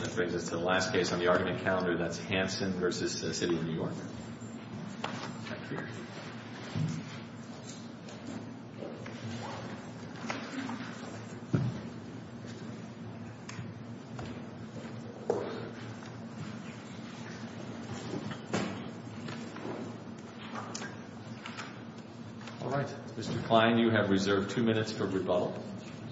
That brings us to the last case on the argument calendar, that's Hansen v. City of New York. All right, Mr. Klein, you have reserved two minutes for rebuttal,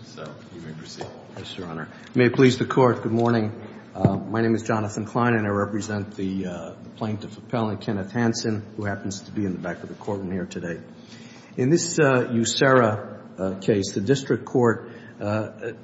so you may proceed. Yes, Your Honor. May it please the Court, good morning. My name is Jonathan Klein and I represent the plaintiff appellant, Kenneth Hansen, who happens to be in the back of the courtroom here today. In this USERRA case, the district court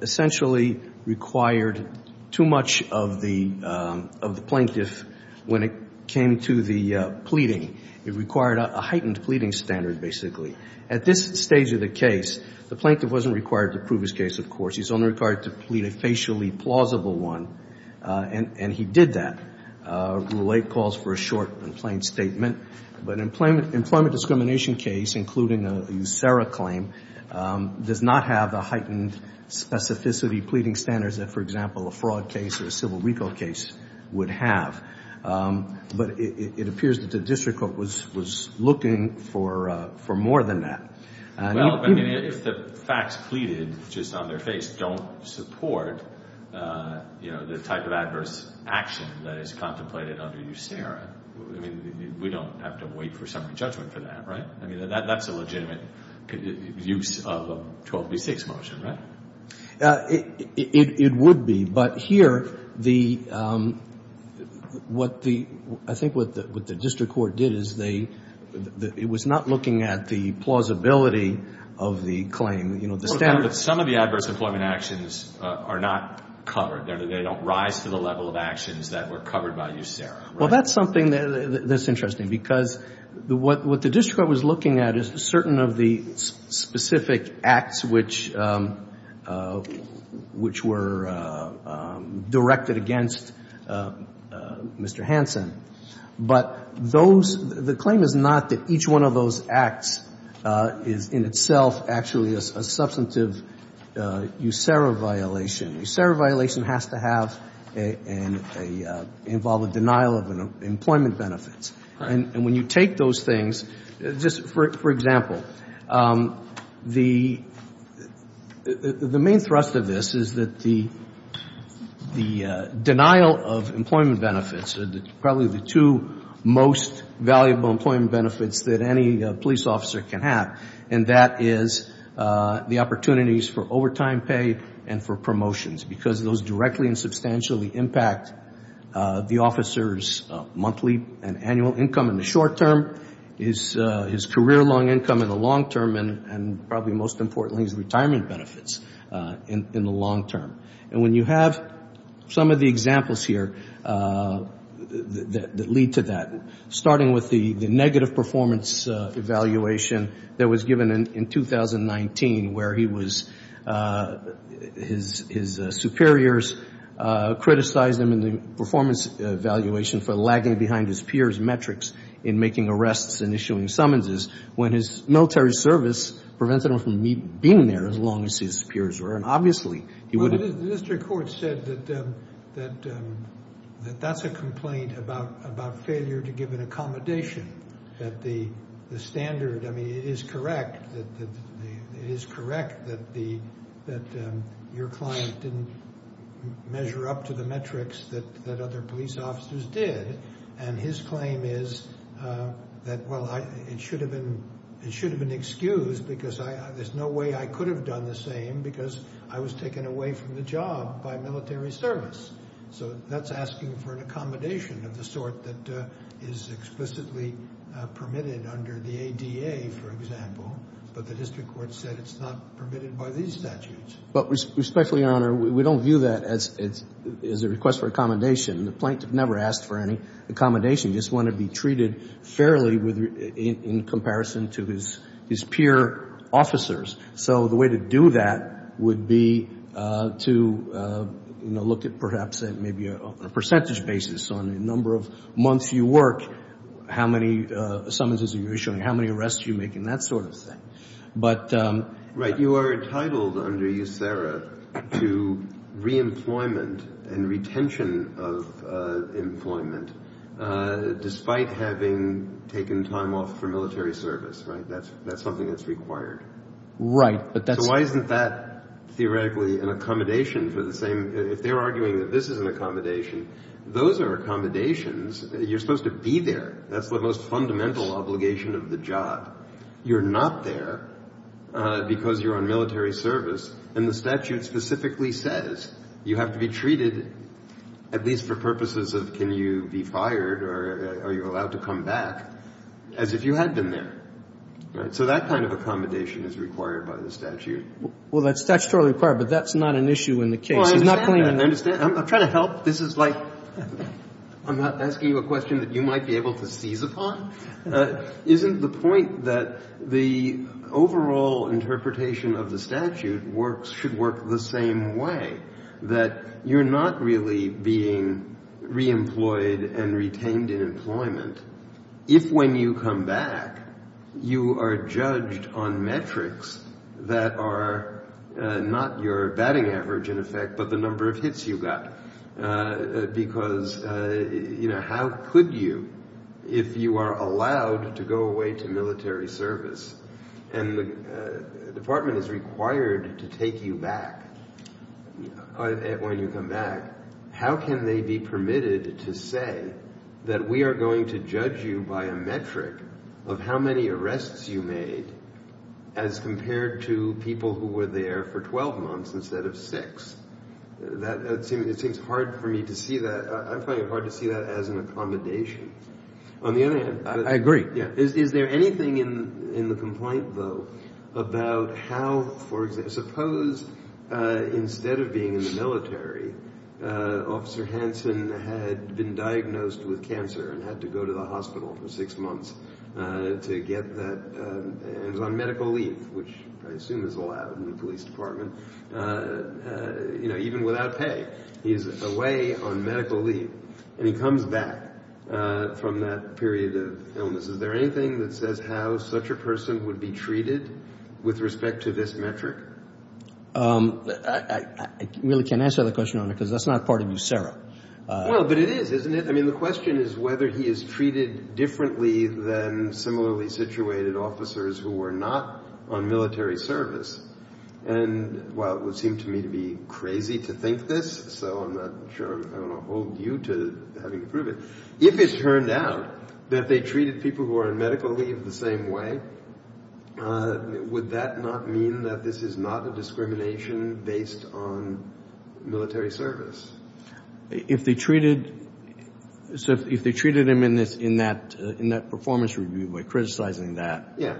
essentially required too much of the plaintiff when it came to the pleading. It required a heightened pleading standard, basically. At this stage of the case, the plaintiff wasn't required to prove his case, of course. He's only required to plead a facially plausible one, and he did that. Rule 8 calls for a short and plain statement. But an employment discrimination case, including a USERRA claim, does not have the heightened specificity pleading standards that, for example, a fraud case or a civil recall case would have. But it appears that the district court was looking for more than that. Well, I mean, if the facts pleaded just on their face don't support, you know, the type of adverse action that is contemplated under USERRA, I mean, we don't have to wait for summary judgment for that, right? I mean, that's a legitimate use of a 12 v. 6 motion, right? It would be. But here, I think what the district court did is it was not looking at the plausibility of the claim. Some of the adverse employment actions are not covered. They don't rise to the level of actions that were covered by USERRA, right? Well, that's something that's interesting, because what the district court was looking at is certain of the specific acts which were directed against Mr. Hansen. But those – the claim is not that each one of those acts is in itself actually a substantive USERRA violation. USERRA violation has to have a – involve a denial of employment benefits. And when you take those things, just for example, the main thrust of this is that the denial of employment benefits, probably the two most valuable employment benefits that any police officer can have, and that is the opportunities for overtime pay and for promotions, because those directly and substantially impact the officer's monthly and annual income in the short term, his career-long income in the long term, and probably most importantly, his retirement benefits in the long term. And when you have some of the examples here that lead to that, starting with the negative performance evaluation that was given in 2019 where he was – his superiors criticized him in the performance evaluation for lagging behind his peers' metrics in making arrests and issuing summonses, when his military service prevented him from being there as long as his peers were. And obviously, he would have – Well, the district court said that that's a complaint about failure to give an accommodation, that the standard – I mean, it is correct that your client didn't measure up to the metrics that other police officers did. And his claim is that, well, it should have been excused because there's no way I could have done the same because I was taken away from the job by military service. So that's asking for an accommodation of the sort that is explicitly permitted under the ADA, for example. But the district court said it's not permitted by these statutes. But respectfully, Your Honor, we don't view that as a request for accommodation. The plaintiff never asked for any accommodation. He just wanted to be treated fairly in comparison to his peer officers. So the way to do that would be to look at perhaps maybe a percentage basis on the number of months you work, how many summonses you're issuing, how many arrests you make, and that sort of thing. But – Right. You are entitled under USERRA to reemployment and retention of employment despite having taken time off for military service, right? That's something that's required. Right, but that's – So why isn't that theoretically an accommodation for the same – if they're arguing that this is an accommodation, those are accommodations. You're supposed to be there. That's the most fundamental obligation of the job. You're not there because you're on military service. And the statute specifically says you have to be treated at least for purposes of can you be fired or are you allowed to come back as if you had been there, right? So that kind of accommodation is required by the statute. Well, that's statutorily required, but that's not an issue in the case. He's not claiming that. Well, I understand that. I'm trying to help. This is like – I'm not asking you a question that you might be able to seize upon. Isn't the point that the overall interpretation of the statute works – should work the same way, that you're not really being reemployed and retained in employment if when you come back you are judged on metrics that are not your batting average, in effect, but the number of hits you got? Because how could you if you are allowed to go away to military service and the department is required to take you back when you come back, how can they be permitted to say that we are going to judge you by a metric of how many arrests you made as compared to people who were there for 12 months instead of six? It seems hard for me to see that. I'm finding it hard to see that as an accommodation. On the other hand – I agree. Is there anything in the complaint, though, about how, for example – suppose instead of being in the military, Officer Hansen had been diagnosed with cancer and had to go to the hospital for six months to get that – and was on medical leave, which I assume is allowed in the police department, even without pay. He's away on medical leave and he comes back from that period of illness. Is there anything that says how such a person would be treated with respect to this metric? I really can't answer the question on it because that's not part of you, Sarah. Well, but it is, isn't it? I mean, the question is whether he is treated differently than similarly situated officers who were not on military service. And while it would seem to me to be crazy to think this, so I'm not sure I want to hold you to having to prove it, if it turned out that they treated people who were on medical leave the same way, would that not mean that this is not a discrimination based on military service? If they treated him in that performance review by criticizing that – Yeah.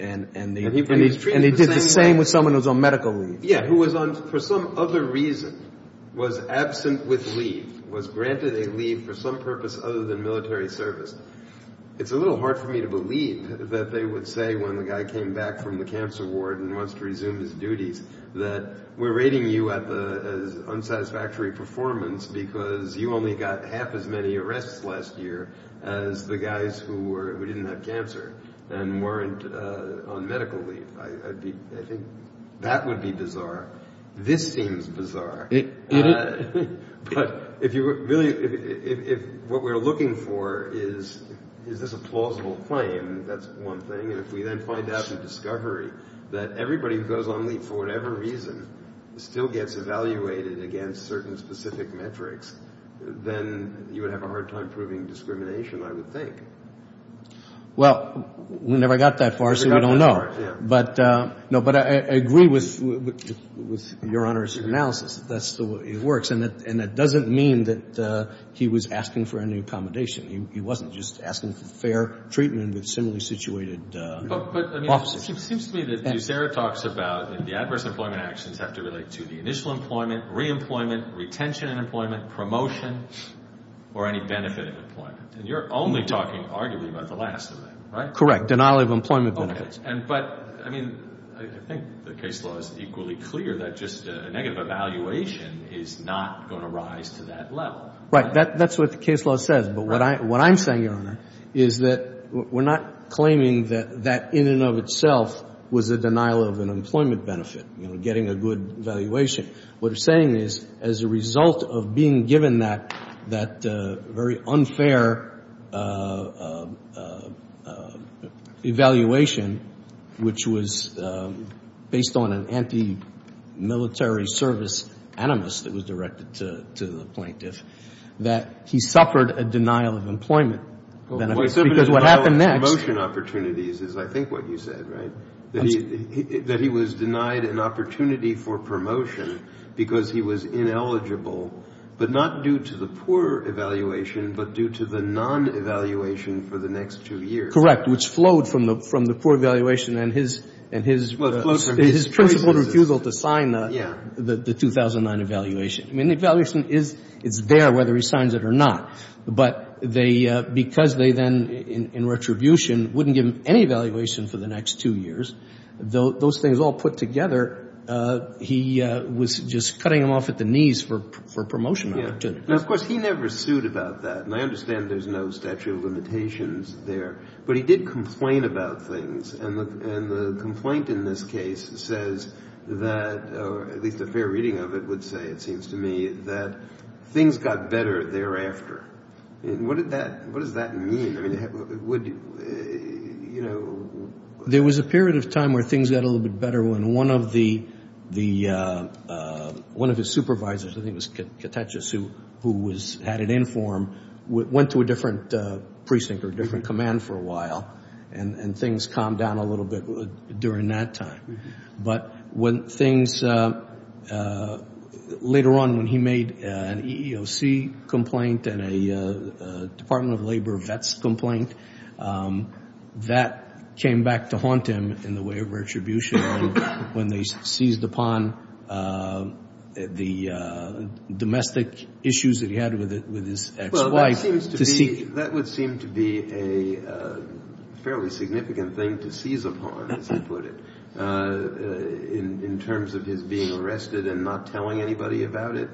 And he did the same with someone who was on medical leave. Yeah, who was on – for some other reason was absent with leave, was granted a leave for some purpose other than military service. It's a little hard for me to believe that they would say when the guy came back from the cancer ward and wants to resume his duties that we're rating you as unsatisfactory performance because you only got half as many arrests last year as the guys who didn't have cancer. And weren't on medical leave. I think that would be bizarre. This seems bizarre. But if you really – if what we're looking for is this a plausible claim, that's one thing. And if we then find out through discovery that everybody who goes on leave for whatever reason still gets evaluated against certain specific metrics, then you would have a hard time proving discrimination, I would think. Well, we never got that far, so we don't know. But I agree with Your Honor's analysis. That's the way it works. And that doesn't mean that he was asking for any accommodation. He wasn't just asking for fair treatment with similarly situated offices. But it seems to me that what Sarah talks about in the adverse employment actions have to relate to the initial employment, reemployment, retention in employment, promotion, or any benefit of employment. And you're only talking arguably about the last of that, right? Correct. Denial of employment benefits. But, I mean, I think the case law is equally clear that just a negative evaluation is not going to rise to that level. Right. That's what the case law says. But what I'm saying, Your Honor, is that we're not claiming that that in and of itself was a denial of an employment benefit, you know, getting a good valuation. What I'm saying is, as a result of being given that very unfair evaluation, which was based on an anti-military service animus that was directed to the plaintiff, that he suffered a denial of employment benefits. Because what happened next. Promotion opportunities is, I think, what you said, right? That he was denied an opportunity for promotion because he was ineligible, but not due to the poor evaluation, but due to the non-evaluation for the next two years. Correct. Which flowed from the poor evaluation and his principal refusal to sign the 2009 evaluation. I mean, the evaluation is there, whether he signs it or not. But because they then, in retribution, wouldn't give him any evaluation for the next two years, those things all put together, he was just cutting him off at the knees for promotion opportunities. Now, of course, he never sued about that. And I understand there's no statute of limitations there. But he did complain about things. And the complaint in this case says that, or at least a fair reading of it would say, it seems to me, that things got better thereafter. What does that mean? There was a period of time where things got a little bit better when one of his supervisors, I think it was Catechis, who had it in for him, went to a different precinct or different command for a while, and things calmed down a little bit during that time. But when things, later on when he made an EEOC complaint and a Department of Labor vets complaint, that came back to haunt him in the way of retribution, when they seized upon the domestic issues that he had with his ex-wife. That would seem to be a fairly significant thing to seize upon, as you put it, in terms of his being arrested and not telling anybody about it.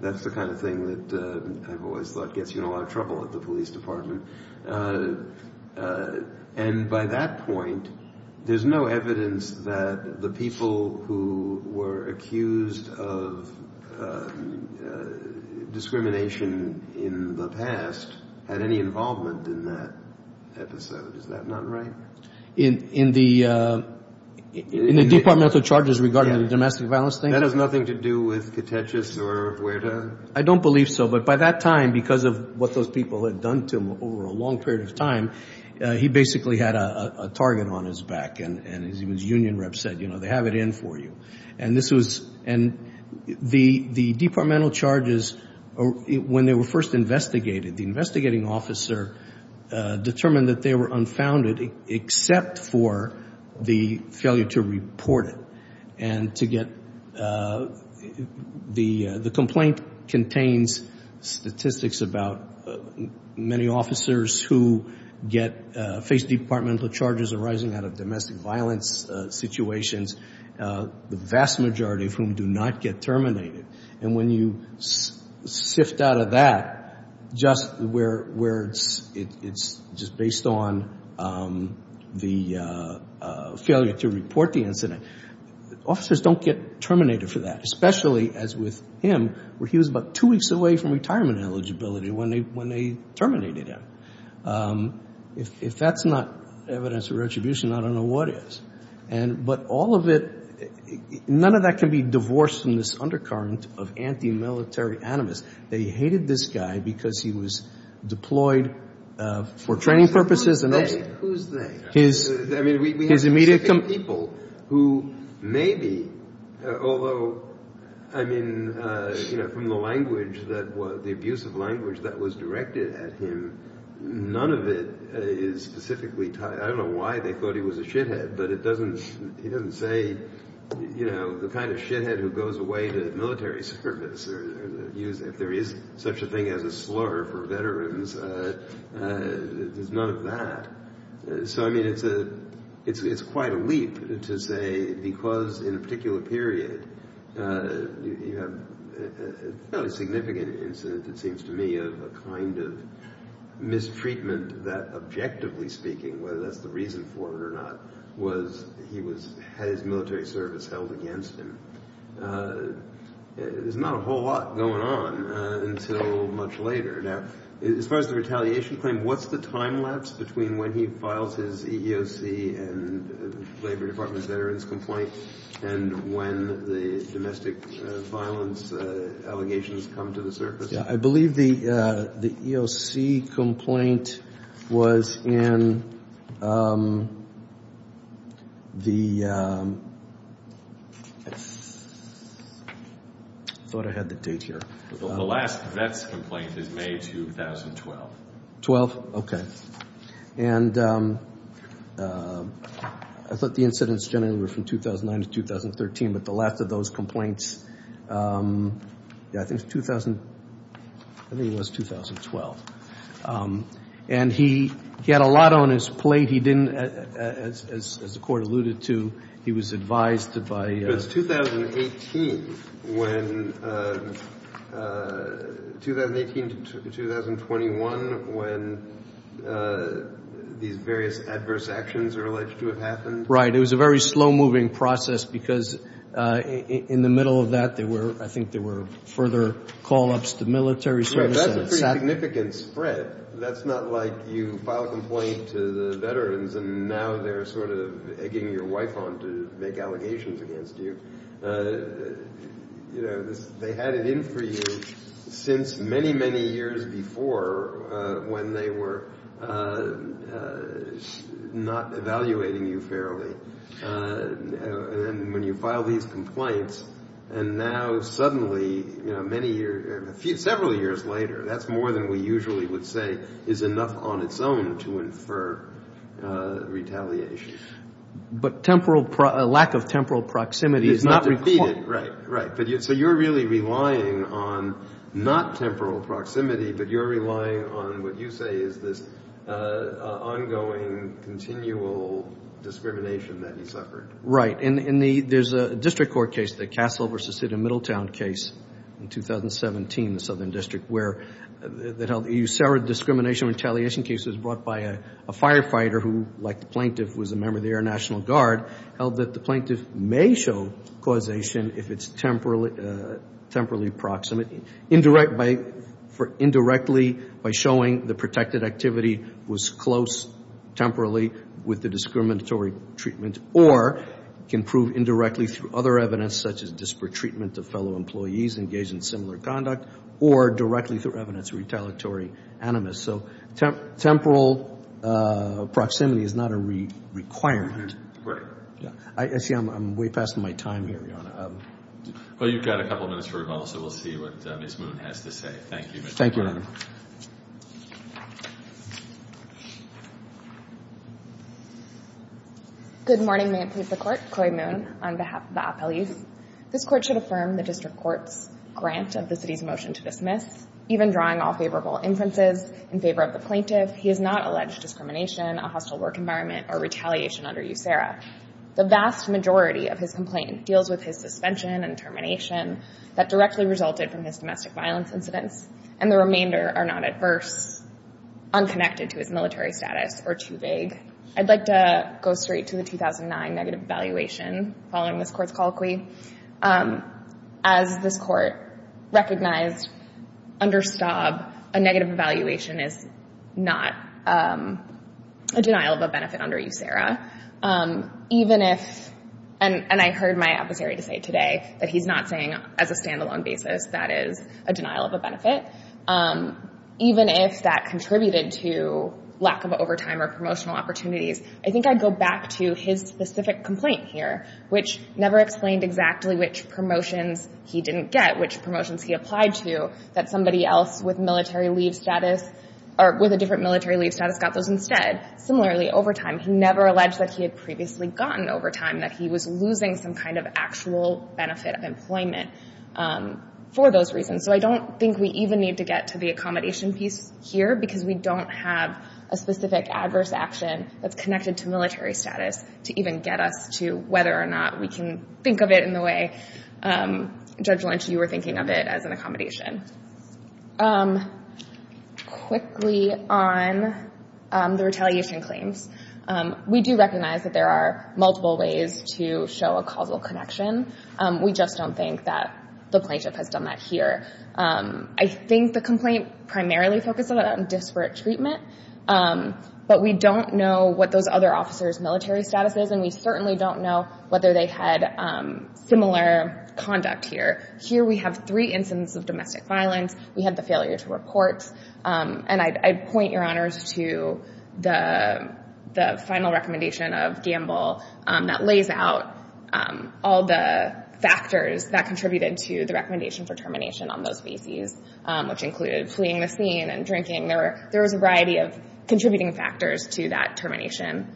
That's the kind of thing that I've always thought gets you in a lot of trouble at the police department. And by that point, there's no evidence that the people who were accused of discrimination in the past had any involvement in that episode. Is that not right? In the departmental charges regarding the domestic violence thing? That has nothing to do with Catechis or Huerta? I don't believe so, but by that time, because of what those people had done to him over a long period of time, he basically had a target on his back. And his union reps said, you know, they have it in for you. And the departmental charges, when they were first investigated, the investigating officer determined that they were unfounded except for the failure to report it and to get the complaint contains statistics about many officers who face departmental charges arising out of domestic violence situations, the vast majority of whom do not get terminated. And when you sift out of that, just where it's just based on the failure to report the incident, officers don't get terminated for that, especially as with him, where he was about two weeks away from retirement eligibility when they terminated him. If that's not evidence of retribution, I don't know what is. But all of it, none of that can be divorced from this undercurrent of anti-military animus. They hated this guy because he was deployed for training purposes. Who's they? I mean, we have specific people who maybe, although, I mean, you know, from the language that was, the abusive language that was directed at him, none of it is specifically tied. I don't know why they thought he was a shithead, but it doesn't, he doesn't say, you know, the kind of shithead who goes away to military service or if there is such a thing as a slur for veterans, there's none of that. So, I mean, it's quite a leap to say because in a particular period you have a fairly significant incident, it seems to me, of a kind of mistreatment that, objectively speaking, whether that's the reason for it or not, was he had his military service held against him. There's not a whole lot going on until much later. Now, as far as the retaliation claim, what's the time lapse between when he files his EEOC and the Labor Department's veterans complaint and when the domestic violence allegations come to the surface? I believe the EEOC complaint was in the, I thought I had the date here. The last VETS complaint is May 2012. Twelve? Okay. And I thought the incidents generally were from 2009 to 2013, but the last of those complaints, I think it was 2012. And he had a lot on his plate. He didn't, as the Court alluded to, he was advised by It was 2018 when, 2018 to 2021, when these various adverse actions are alleged to have happened. Right. It was a very slow-moving process because in the middle of that there were, I think, there were further call-ups to military service. That's a pretty significant spread. That's not like you file a complaint to the veterans and now they're sort of egging your wife on to make allegations against you. They had it in for you since many, many years before when they were not evaluating you fairly. And when you file these complaints and now suddenly, you know, many years, several years later, that's more than we usually would say is enough on its own to infer retaliation. But temporal, a lack of temporal proximity is not required. Right, right. So you're really relying on not temporal proximity, but you're relying on what you say is this ongoing, continual discrimination that he suffered. Right. In the, there's a district court case, the Castle v. City of Middletown case in 2017, the Southern District, where it held that he served discrimination retaliation cases brought by a firefighter who, like the plaintiff, was a member of the Air National Guard, held that the plaintiff may show causation if it's temporally proximate, indirectly by showing the protected activity was close temporally with the discriminatory treatment, or can prove indirectly through other evidence such as disparate treatment of fellow employees engaged in similar conduct, or directly through evidence retaliatory animus. So temporal proximity is not a requirement. Right. I see I'm way past my time here, Your Honor. Well, you've got a couple minutes for rebuttal, so we'll see what Ms. Moon has to say. Thank you, Mr. Lerner. Thank you, Your Honor. Good morning, members of the Court. Chloe Moon on behalf of the appellees. This Court should affirm the district court's grant of the City's motion to dismiss. Even drawing all favorable inferences in favor of the plaintiff, he has not alleged discrimination, a hostile work environment, or retaliation under USERRA. The vast majority of his complaint deals with his suspension and termination that directly resulted from his domestic violence incidents, and the remainder are not adverse, unconnected to his military status, or too vague. I'd like to go straight to the 2009 negative evaluation following this Court's colloquy. As this Court recognized under Staub, a negative evaluation is not a denial of a benefit under USERRA. Even if, and I heard my adversary say today that he's not saying as a stand-alone basis that is a denial of a benefit. Even if that contributed to lack of overtime or promotional opportunities, I think I'd go back to his specific complaint here, which never explained exactly which promotions he didn't get, which promotions he applied to that somebody else with military leave status, or with a different military leave status got those instead. Similarly, overtime, he never alleged that he had previously gotten overtime, that he was losing some kind of actual benefit of employment for those reasons. So I don't think we even need to get to the accommodation piece here because we don't have a specific adverse action that's connected to military status to even get us to whether or not we can think of it in the way, Judge Lynch, you were thinking of it as an accommodation. Quickly on the retaliation claims. We do recognize that there are multiple ways to show a causal connection. We just don't think that the plaintiff has done that here. I think the complaint primarily focused on disparate treatment, but we don't know what those other officers' military status is, and we certainly don't know whether they had similar conduct here. Here we have three incidents of domestic violence. We have the failure to report, and I'd point your honors to the final recommendation of Gamble that lays out all the factors that contributed to the recommendation for termination on those bases, which included fleeing the scene and drinking. There was a variety of contributing factors to that termination.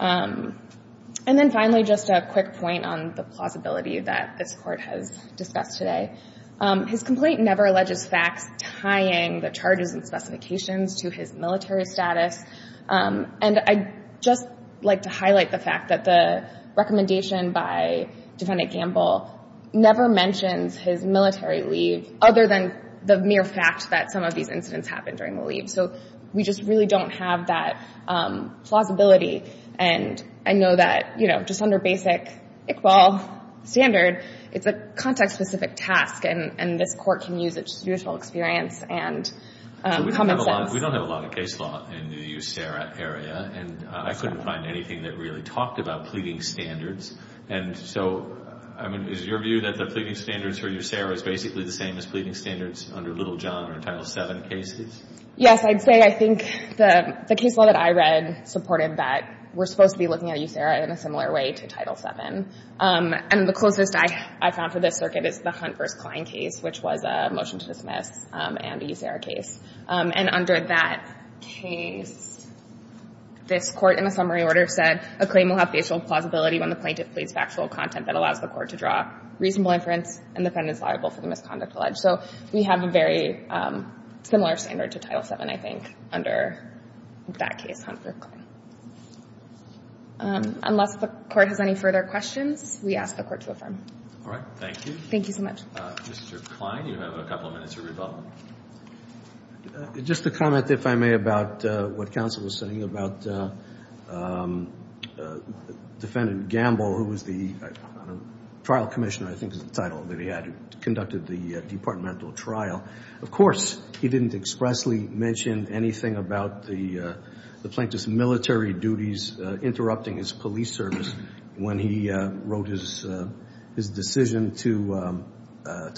And then finally, just a quick point on the plausibility that this Court has discussed today. His complaint never alleges facts tying the charges and specifications to his military status, and I'd just like to highlight the fact that the recommendation by Defendant Gamble never mentions his military leave other than the mere fact that some of these incidents happened during the leave. So we just really don't have that plausibility, and I know that, you know, just under basic Iqbal standard, it's a context-specific task, and this Court can use its judicial experience and common sense. We don't have a lot of case law in the USERRA area, and I couldn't find anything that really talked about pleading standards. And so, I mean, is your view that the pleading standards for USERRA is basically the same as pleading standards under Little John or Title VII cases? Yes, I'd say I think the case law that I read supported that we're supposed to be looking at USERRA in a similar way to Title VII. And the closest I found for this circuit is the Hunt v. Kline case, which was a motion to dismiss and a USERRA case. And under that case, this Court, in a summary order, said, a claim will have facial plausibility when the plaintiff pleads factual content that allows the Court to draw reasonable inference and the defendant is liable for the misconduct alleged. So we have a very similar standard to Title VII, I think, under that case, Hunt v. Kline. Unless the Court has any further questions, we ask the Court to affirm. All right. Thank you. Thank you so much. Mr. Kline, you have a couple of minutes to rebuttal. Just a comment, if I may, about what counsel was saying about Defendant Gamble, who was the trial commissioner, I think is the title that he had, who conducted the departmental trial. Of course, he didn't expressly mention anything about the plaintiff's military duties interrupting his police service when he wrote his decision to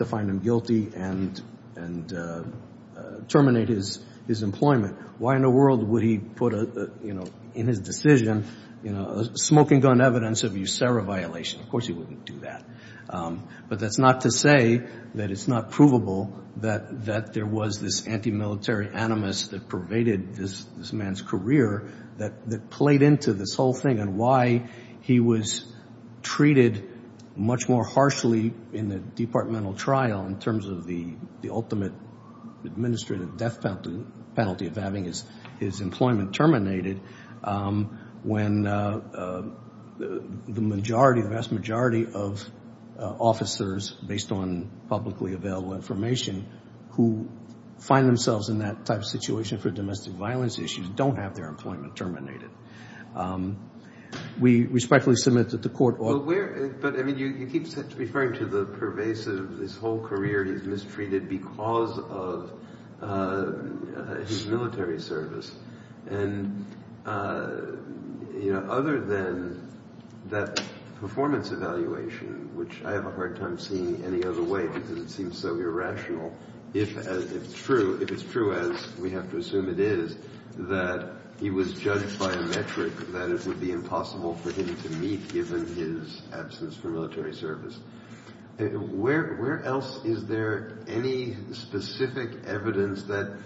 find him guilty and terminate his employment. Why in the world would he put in his decision smoking gun evidence of USERRA violation? Of course he wouldn't do that. But that's not to say that it's not provable that there was this anti-military animus that pervaded this man's career that played into this whole thing and why he was treated much more harshly in the departmental trial in terms of the ultimate administrative death penalty of having his employment terminated when the vast majority of officers, based on publicly available information, who find themselves in that type of situation for domestic violence issues don't have their employment terminated. We respectfully submit that the court ought to... But, I mean, you keep referring to the pervasive, this whole career he's mistreated because of his military service. And, you know, other than that performance evaluation, which I have a hard time seeing any other way because it seems so irrational, if it's true, as we have to assume it is, that he was judged by a metric that it would be impossible for him to meet given his absence from military service. Where else is there any specific evidence that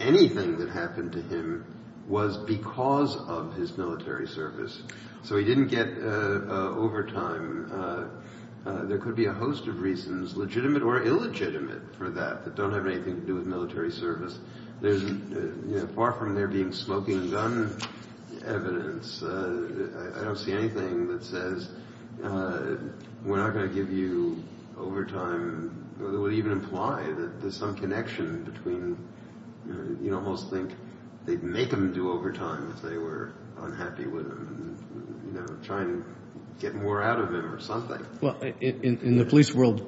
anything that happened to him was because of his military service? So he didn't get overtime. There could be a host of reasons, legitimate or illegitimate, for that, that don't have anything to do with military service. Far from there being smoking gun evidence, I don't see anything that says we're not going to give you overtime. It would even imply that there's some connection between... You'd almost think they'd make him do overtime if they were unhappy with him and, you know, try and get more out of him or something. Well, in the police world,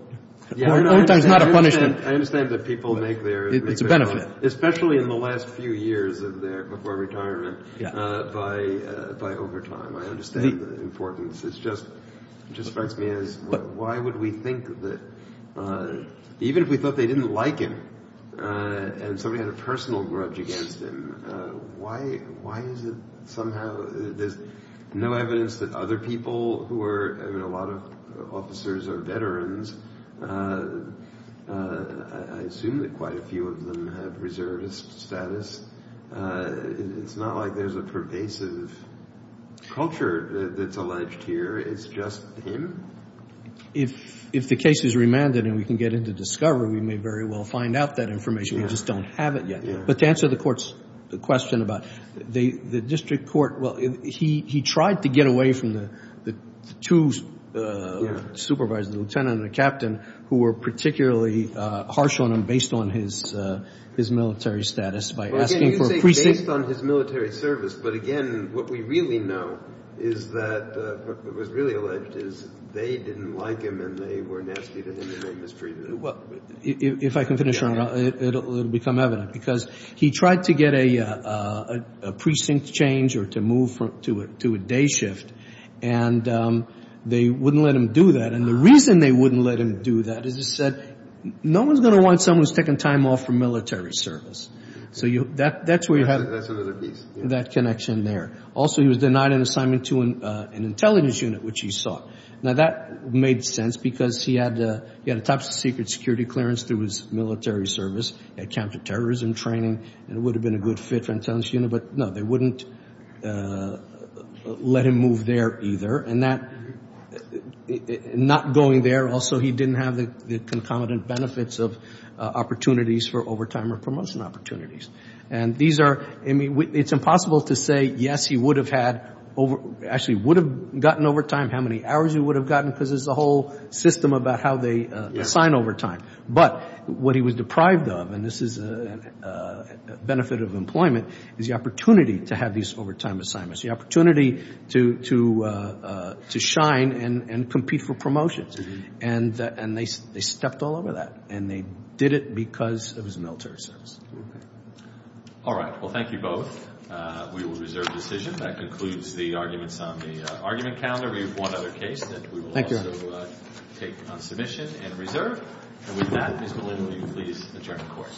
overtime is not a punishment. I understand that people make their... It's a benefit. Especially in the last few years before retirement by overtime. I understand the importance. It just strikes me as why would we think that, even if we thought they didn't like him and somebody had a personal grudge against him, why is it somehow there's no evidence that other people who are... I mean, a lot of officers are veterans. I assume that quite a few of them have reservist status. It's not like there's a pervasive culture that's alleged here. It's just him? If the case is remanded and we can get into discovery, we may very well find out that information. We just don't have it yet. But to answer the court's question about the district court, well, he tried to get away from the two supervisors, the lieutenant and the captain, who were particularly harsh on him based on his military status by asking for... Well, again, you say based on his military service, but, again, what we really know is that what was really alleged is they didn't like him and they were nasty to him and they mistreated him. Well, if I can finish on that, it will become evident. Because he tried to get a precinct change or to move to a day shift, and they wouldn't let him do that. And the reason they wouldn't let him do that is he said, no one's going to want someone who's taking time off from military service. So that's where you have... That's another piece. That connection there. Also, he was denied an assignment to an intelligence unit, which he sought. Now, that made sense because he had a top-secret security clearance through his military service. He had counterterrorism training. It would have been a good fit for an intelligence unit. But, no, they wouldn't let him move there either. And not going there, also, he didn't have the concomitant benefits of opportunities for overtime or promotion opportunities. And these are, I mean, it's impossible to say, yes, he would have had, actually would have gotten overtime, how many hours he would have gotten, because there's a whole system about how they assign overtime. But what he was deprived of, and this is a benefit of employment, is the opportunity to have these overtime assignments, the opportunity to shine and compete for promotions. And they stepped all over that. And they did it because it was a military service. All right. Well, thank you both. We will reserve the decision. That concludes the arguments on the argument calendar. We have one other case that we will also take on submission and reserve. And with that, Mr. Lin, will you please adjourn the court?